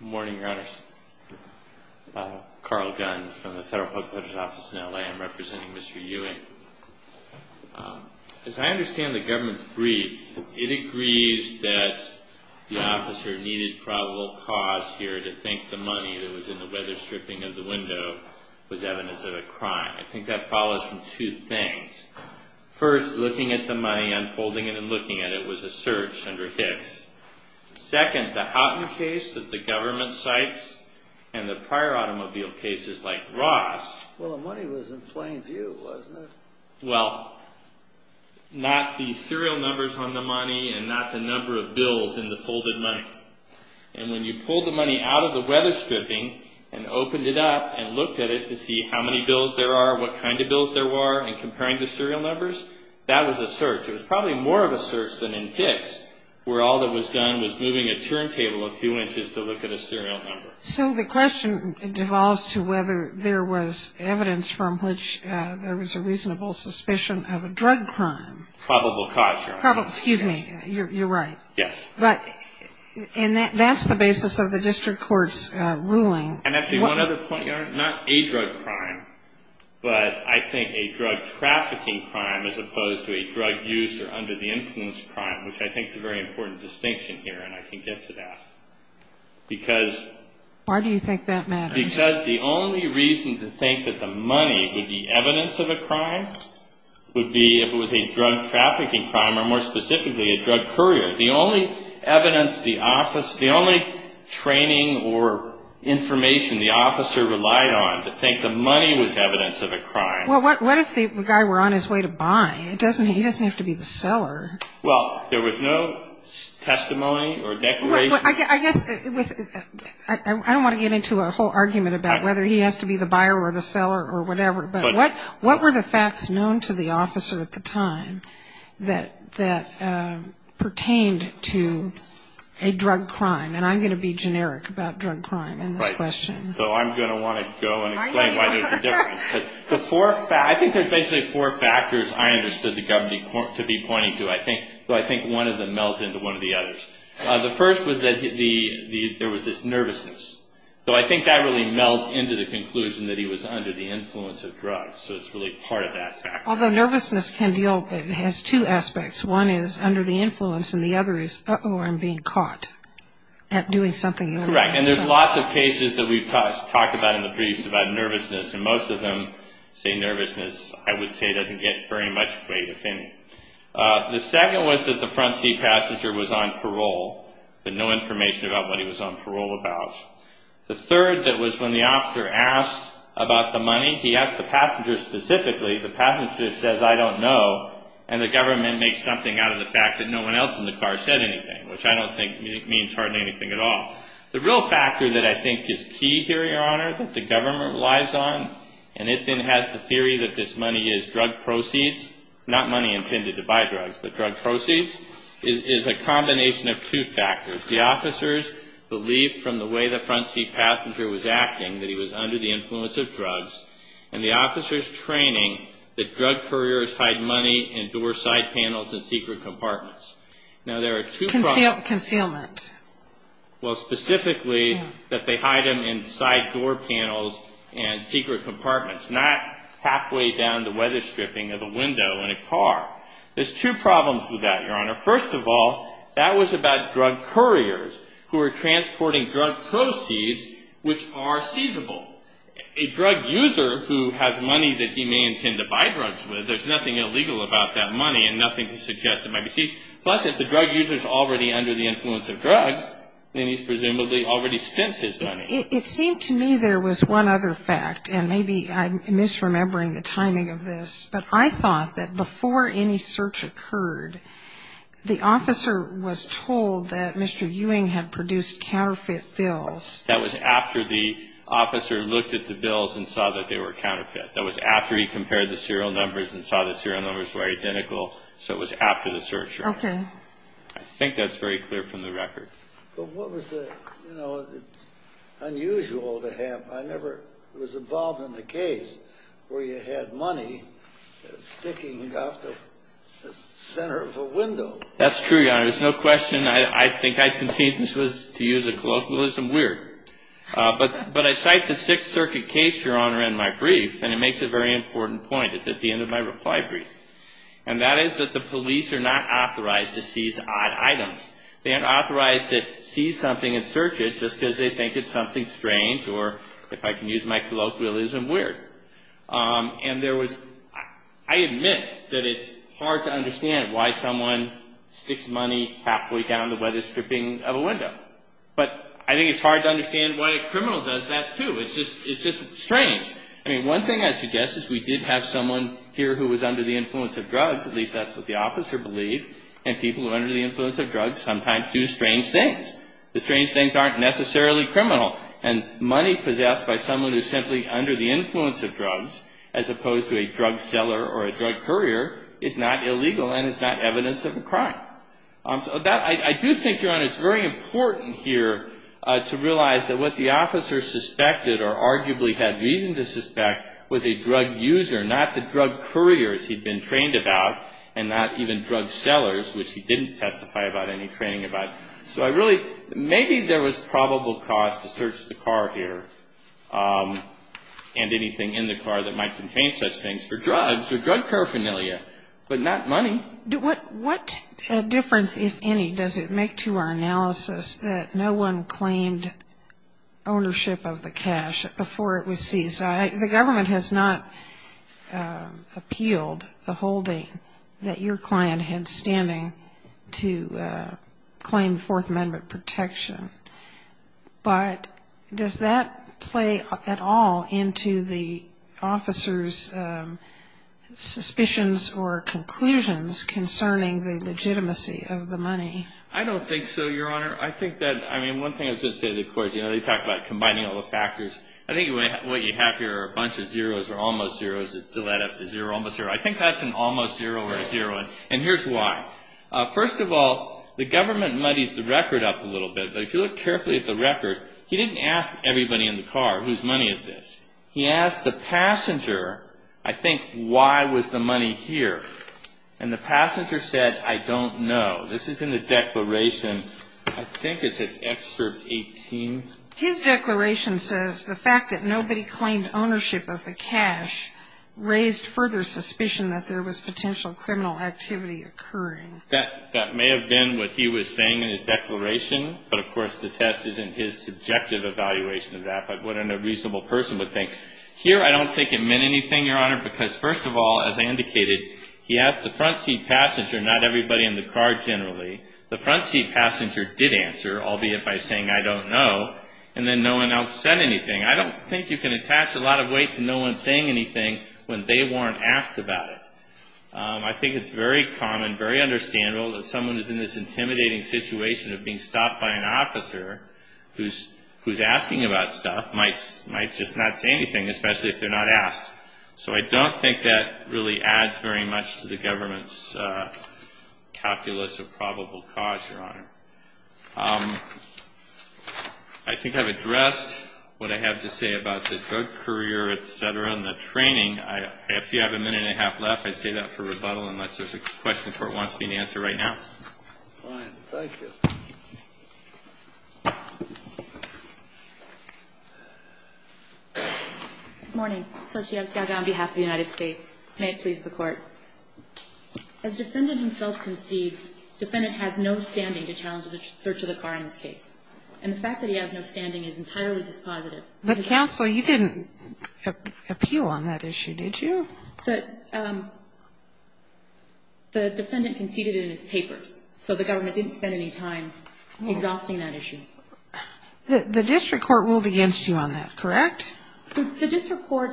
Good morning, your honors. Carl Gunn from the Federal Public Protector's Office in L.A. I'm representing Mr. Ewing. As I understand the government's brief, it agrees that the officer needed probable cause here to think the money that was in the weatherstripping of the window was evidence of a crime. I think that follows from two things. First, looking at the money, unfolding it and looking at it was a search under Hicks. Second, the Houghton case that the government cites and the prior automobile cases like Ross... Well, the money was in plain view, wasn't it? Well, not the serial numbers on the money and not the number of bills in the folded money. And when you pulled the money out of the weatherstripping and opened it up and looked at it to see how many bills there are, what kind of bills there were, and comparing the serial numbers, that was a search. It was probably more of a search than in Hicks where all that was done was moving a turntable a few inches to look at a serial number. So the question devolves to whether there was evidence from which there was a reasonable suspicion of a drug crime. Probable cause, your honor. Excuse me. You're right. Yes. And that's the basis of the district court's ruling. And actually, one other point, your honor, not a drug crime, but I think a drug trafficking crime as opposed to a drug use or under the influence crime, which I think is a very important distinction here and I can get to that. Because... Why do you think that matters? Because the only reason to think that the money would be evidence of a crime would be if it was a drug trafficking crime or more specifically a drug courier. The only evidence the office, the only training or information the officer relied on to think the money was evidence of a crime. Well, what if the guy were on his way to buy? He doesn't have to be the seller. Well, there was no testimony or declaration. I guess I don't want to get into a whole argument about whether he has to be the buyer or the seller or whatever. But what were the facts known to the officer at the time that pertained to a drug crime? And I'm going to be generic about drug crime in this question. Right. So I'm going to want to go and explain why there's a difference. I think there's basically four factors I understood the government to be pointing to. So I think one of them melts into one of the others. The first was that there was this nervousness. So I think that really melts into the conclusion that he was under the influence of drugs. So it's really part of that fact. Although nervousness has two aspects. One is under the influence and the other is, uh-oh, I'm being caught at doing something. Correct. And there's lots of cases that we've talked about in the briefs about nervousness. And most of them say nervousness, I would say, doesn't get very much weight. The second was that the front seat passenger was on parole, but no information about what he was on parole about. The third that was when the officer asked about the money. He asked the passenger specifically. The passenger says, I don't know. And the government makes something out of the fact that no one else in the car said anything, which I don't think means hardly anything at all. The real factor that I think is key here, Your Honor, that the government relies on, and it then has the theory that this money is drug proceeds, not money intended to buy drugs, but drug proceeds, is a combination of two factors. The officers believe from the way the front seat passenger was acting that he was under the influence of drugs, and the officers' training that drug couriers hide money in door side panels and secret compartments. Now, there are two problems. Concealment. Well, specifically that they hide them inside door panels and secret compartments, not halfway down the weather stripping of a window in a car. There's two problems with that, Your Honor. First of all, that was about drug couriers who were transporting drug proceeds which are seizable. A drug user who has money that he may intend to buy drugs with, there's nothing illegal about that money and nothing to suggest it might be seized. Plus, if the drug user is already under the influence of drugs, then he's presumably already spent his money. It seemed to me there was one other fact, and maybe I'm misremembering the timing of this, but I thought that before any search occurred, the officer was told that Mr. Ewing had produced counterfeit bills. That was after the officer looked at the bills and saw that they were counterfeit. That was after he compared the serial numbers and saw the serial numbers were identical, so it was after the search occurred. Okay. I think that's very clear from the record. But what was the, you know, it's unusual to have. I never was involved in a case where you had money sticking out the center of a window. That's true, Your Honor. There's no question I think I conceived this was, to use a colloquialism, weird. But I cite the Sixth Circuit case, Your Honor, in my brief, and it makes a very important point. It's at the end of my reply brief. And that is that the police are not authorized to seize odd items. They aren't authorized to seize something and search it just because they think it's something strange, or if I can use my colloquialism, weird. And there was, I admit that it's hard to understand why someone sticks money halfway down the weatherstripping of a window. But I think it's hard to understand why a criminal does that, too. It's just strange. I mean, one thing I suggest is we did have someone here who was under the influence of drugs. At least that's what the officer believed. And people who are under the influence of drugs sometimes do strange things. The strange things aren't necessarily criminal. And money possessed by someone who's simply under the influence of drugs, as opposed to a drug seller or a drug courier, is not illegal and is not evidence of a crime. So that, I do think, Your Honor, it's very important here to realize that what the officer suspected or arguably had reason to suspect was a drug user, not the drug couriers he'd been trained about, and not even drug sellers, which he didn't testify about any training about. So I really, maybe there was probable cause to search the car here and anything in the car that might contain such things for drugs or drug paraphernalia, but not money. And what difference, if any, does it make to our analysis that no one claimed ownership of the cash before it was seized? The government has not appealed the holding that your client had standing to claim Fourth Amendment protection. But does that play at all into the officer's suspicions or conclusions concerning the legitimacy of the money? I don't think so, Your Honor. I think that, I mean, one thing I was going to say to the court, you know, they talk about combining all the factors. I think what you have here are a bunch of zeroes or almost zeroes that still add up to zero, almost zero. I think that's an almost zero or a zero. And here's why. First of all, the government muddies the record up a little bit. But if you look carefully at the record, he didn't ask everybody in the car whose money is this. He asked the passenger, I think, why was the money here. And the passenger said, I don't know. This is in the declaration. I think it says Excerpt 18. His declaration says the fact that nobody claimed ownership of the cash raised further suspicion that there was potential criminal activity occurring. That may have been what he was saying in his declaration. But, of course, the test isn't his subjective evaluation of that, but what a reasonable person would think. Here I don't think it meant anything, Your Honor, because, first of all, as I indicated, he asked the front seat passenger, not everybody in the car generally. The front seat passenger did answer, albeit by saying, I don't know. And then no one else said anything. I don't think you can attach a lot of weight to no one saying anything when they weren't asked about it. I think it's very common, very understandable, that someone who's in this intimidating situation of being stopped by an officer who's asking about stuff might just not say anything, especially if they're not asked. So I don't think that really adds very much to the government's calculus of probable cause, Your Honor. I think I've addressed what I have to say about the drug courier, et cetera, and the training. I ask that you have a minute and a half left. I say that for rebuttal unless there's a question the Court wants me to answer right now. All right. Thank you. Good morning. Satya Gaga on behalf of the United States. May it please the Court. As defendant himself concedes, defendant has no standing to challenge the search of the car in this case. And the fact that he has no standing is entirely dispositive. But, counsel, you didn't appeal on that issue, did you? The defendant conceded it in his papers. So the government didn't spend any time exhausting that issue. The district court ruled against you on that, correct? The district court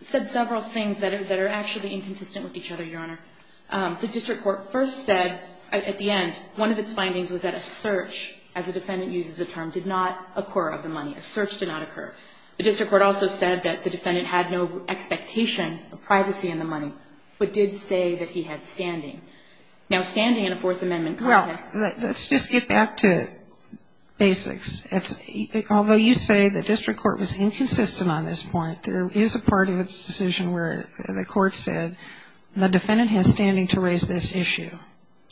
said several things that are actually inconsistent with each other, Your Honor. The district court first said at the end one of its findings was that a search, as the defendant uses the term, did not occur of the money. A search did not occur. The district court also said that the defendant had no expectation of privacy in the money, but did say that he had standing. Now, standing in a Fourth Amendment context. Well, let's just get back to basics. Although you say the district court was inconsistent on this point, there is a part of its decision where the court said the defendant has standing to raise this issue.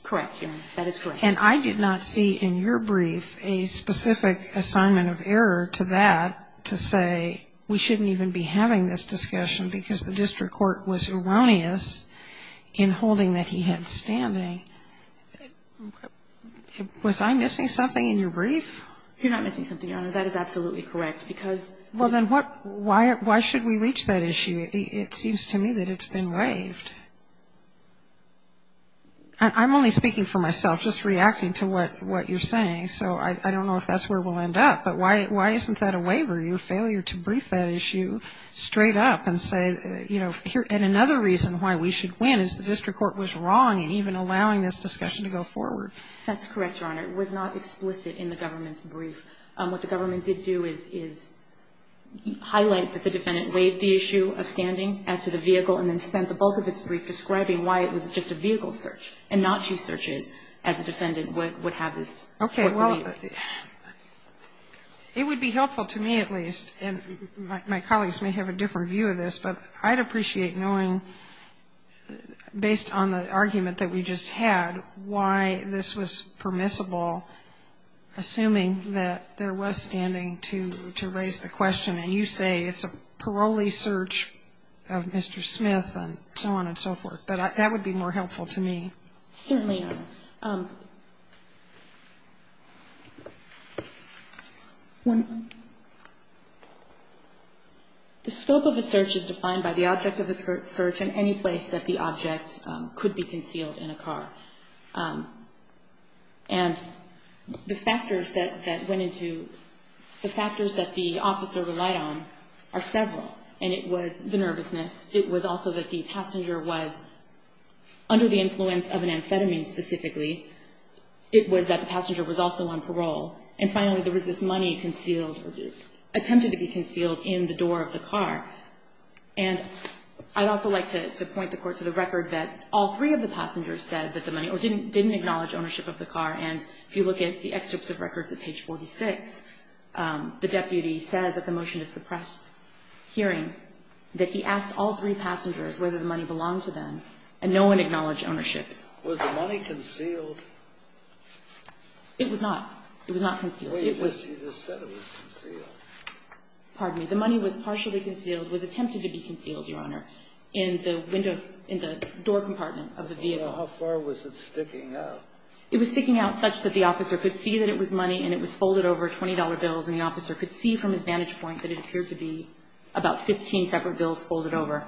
Correct, Your Honor. That is correct. And I did not see in your brief a specific assignment of error to that to say we shouldn't even be having this discussion because the district court was erroneous in holding that he had standing. Was I missing something in your brief? You're not missing something, Your Honor. That is absolutely correct. Well, then why should we reach that issue? It seems to me that it's been waived. I'm only speaking for myself, just reacting to what you're saying. So I don't know if that's where we'll end up. But why isn't that a waiver, your failure to brief that issue straight up and say, you know, and another reason why we should win is the district court was wrong in even allowing this discussion to go forward. That's correct, Your Honor. It was not explicit in the government's brief. What the government did do is highlight that the defendant waived the issue of standing as to the vehicle and then spent the bulk of its brief describing why it was just a vehicle search and not two searches as a defendant would have this waiver. Okay. Well, it would be helpful to me at least, and my colleagues may have a different view of this, but I'd appreciate knowing, based on the argument that we just had, why this was permissible, assuming that there was standing to raise the question. And you say it's a parolee search of Mr. Smith and so on and so forth. But that would be more helpful to me. Certainly, Your Honor. The scope of a search is defined by the object of the search in any place that the object could be concealed in a car. And the factors that went into the factors that the officer relied on are several. And it was the nervousness. It was also that the passenger was under the influence of an amphetamine specifically. It was that the passenger was also on parole. And finally, there was this money concealed or attempted to be concealed in the door of the car. And I'd also like to point the Court to the record that all three of the passengers said that the money or didn't acknowledge ownership of the car. And if you look at the excerpts of records at page 46, the deputy says at the motion to suppress hearing that he asked all three passengers whether the money belonged to them, and no one acknowledged ownership. Was the money concealed? It was not. It was not concealed. It was. You just said it was concealed. Pardon me. The money was partially concealed, was attempted to be concealed, Your Honor, in the windows, in the door compartment of the vehicle. Well, how far was it sticking out? It was sticking out such that the officer could see that it was money, and it was folded over $20 bills, and the officer could see from his vantage point that it appeared to be about 15 separate bills folded over.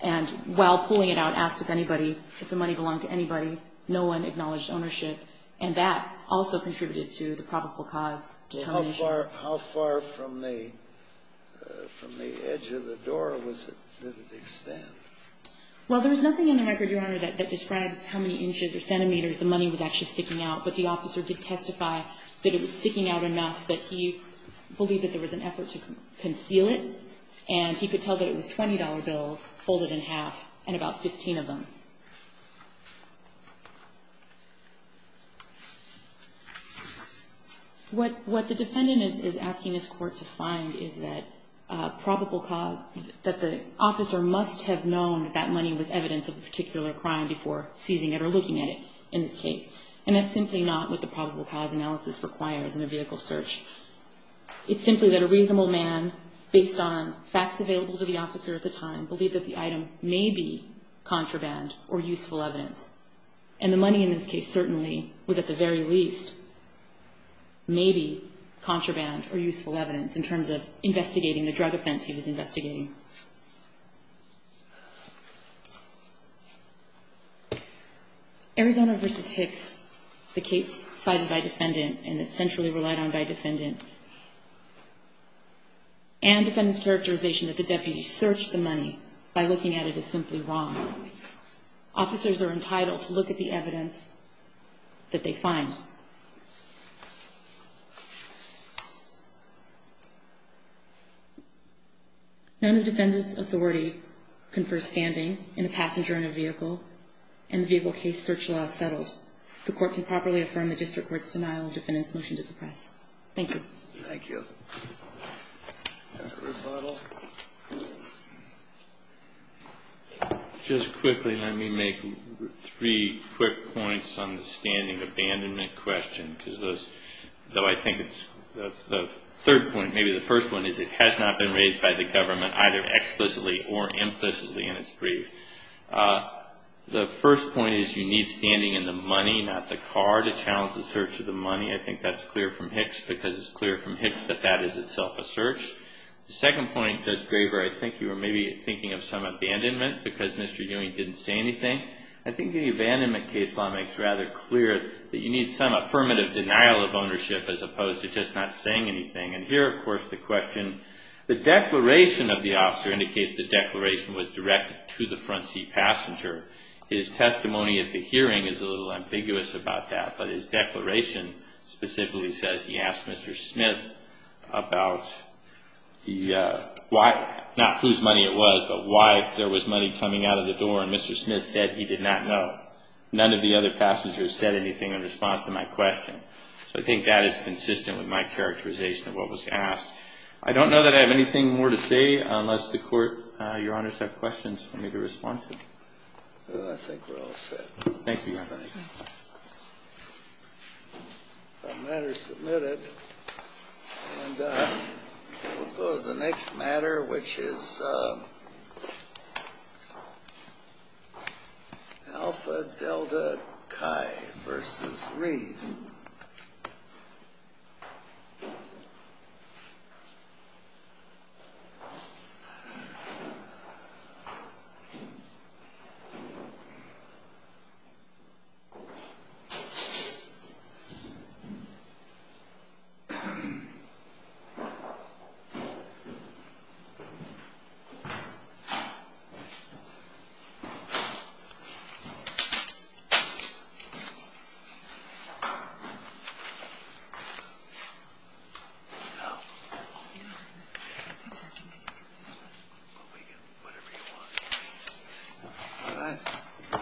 And while pulling it out, asked if anybody, if the money belonged to anybody, no one acknowledged ownership. And that also contributed to the probable cause determination. How far from the edge of the door did it extend? Well, there was nothing in the record, Your Honor, that describes how many inches or centimeters the money was actually sticking out. But the officer did testify that it was sticking out enough that he believed that there was an effort to conceal it, and he could tell that it was $20 bills folded in half, and about 15 of them. What the defendant is asking this court to find is that probable cause, that the officer must have known that that money was evidence of a particular crime before seizing it or looking at it in this case. And that's simply not what the probable cause analysis requires in a vehicle search. It's simply that a reasonable man, based on facts available to the officer at the time, believed that the item may be contraband, or useful evidence. And the money in this case certainly was at the very least maybe contraband or useful evidence in terms of investigating the drug offense he was investigating. Arizona v. Hicks, the case cited by defendant, and it's centrally relied on by defendant, and defendant's characterization that the deputy searched the money by looking at it is simply wrong. Officers are entitled to look at the evidence that they find. None of defendant's authority confers standing in a passenger in a vehicle and the vehicle case search law is settled. The court can properly affirm the district court's denial of defendant's motion to suppress. Thank you. Thank you. Just quickly, let me make three quick points on the standing abandonment question, because I think that's the third point. Maybe the first one is it has not been raised by the government either explicitly or implicitly in its brief. The first point is you need standing in the money, not the car, to challenge the search of the money. I think that's clear from Hicks, because it's clear from Hicks that that is itself a search. The second point, Judge Graber, I think you were maybe thinking of some abandonment because Mr. Ewing didn't say anything. I think the abandonment case law makes rather clear that you need some affirmative denial of ownership as opposed to just not saying anything. And here, of course, the question, the declaration of the officer indicates the declaration was directed to the front seat passenger. His testimony at the hearing is a little ambiguous about that, but his declaration specifically says he asked Mr. Smith about the why, not whose money it was, but why there was money coming out of the door. And Mr. Smith said he did not know. None of the other passengers said anything in response to my question. So I think that is consistent with my characterization of what was asked. I don't know that I have anything more to say unless the Court, Your Honors, have questions for me to respond to. I think we're all set. Thank you, Your Honor. All right. The matter is submitted. And we'll go to the next matter, which is Alpha Delta Chi v. Reed. All right. All right.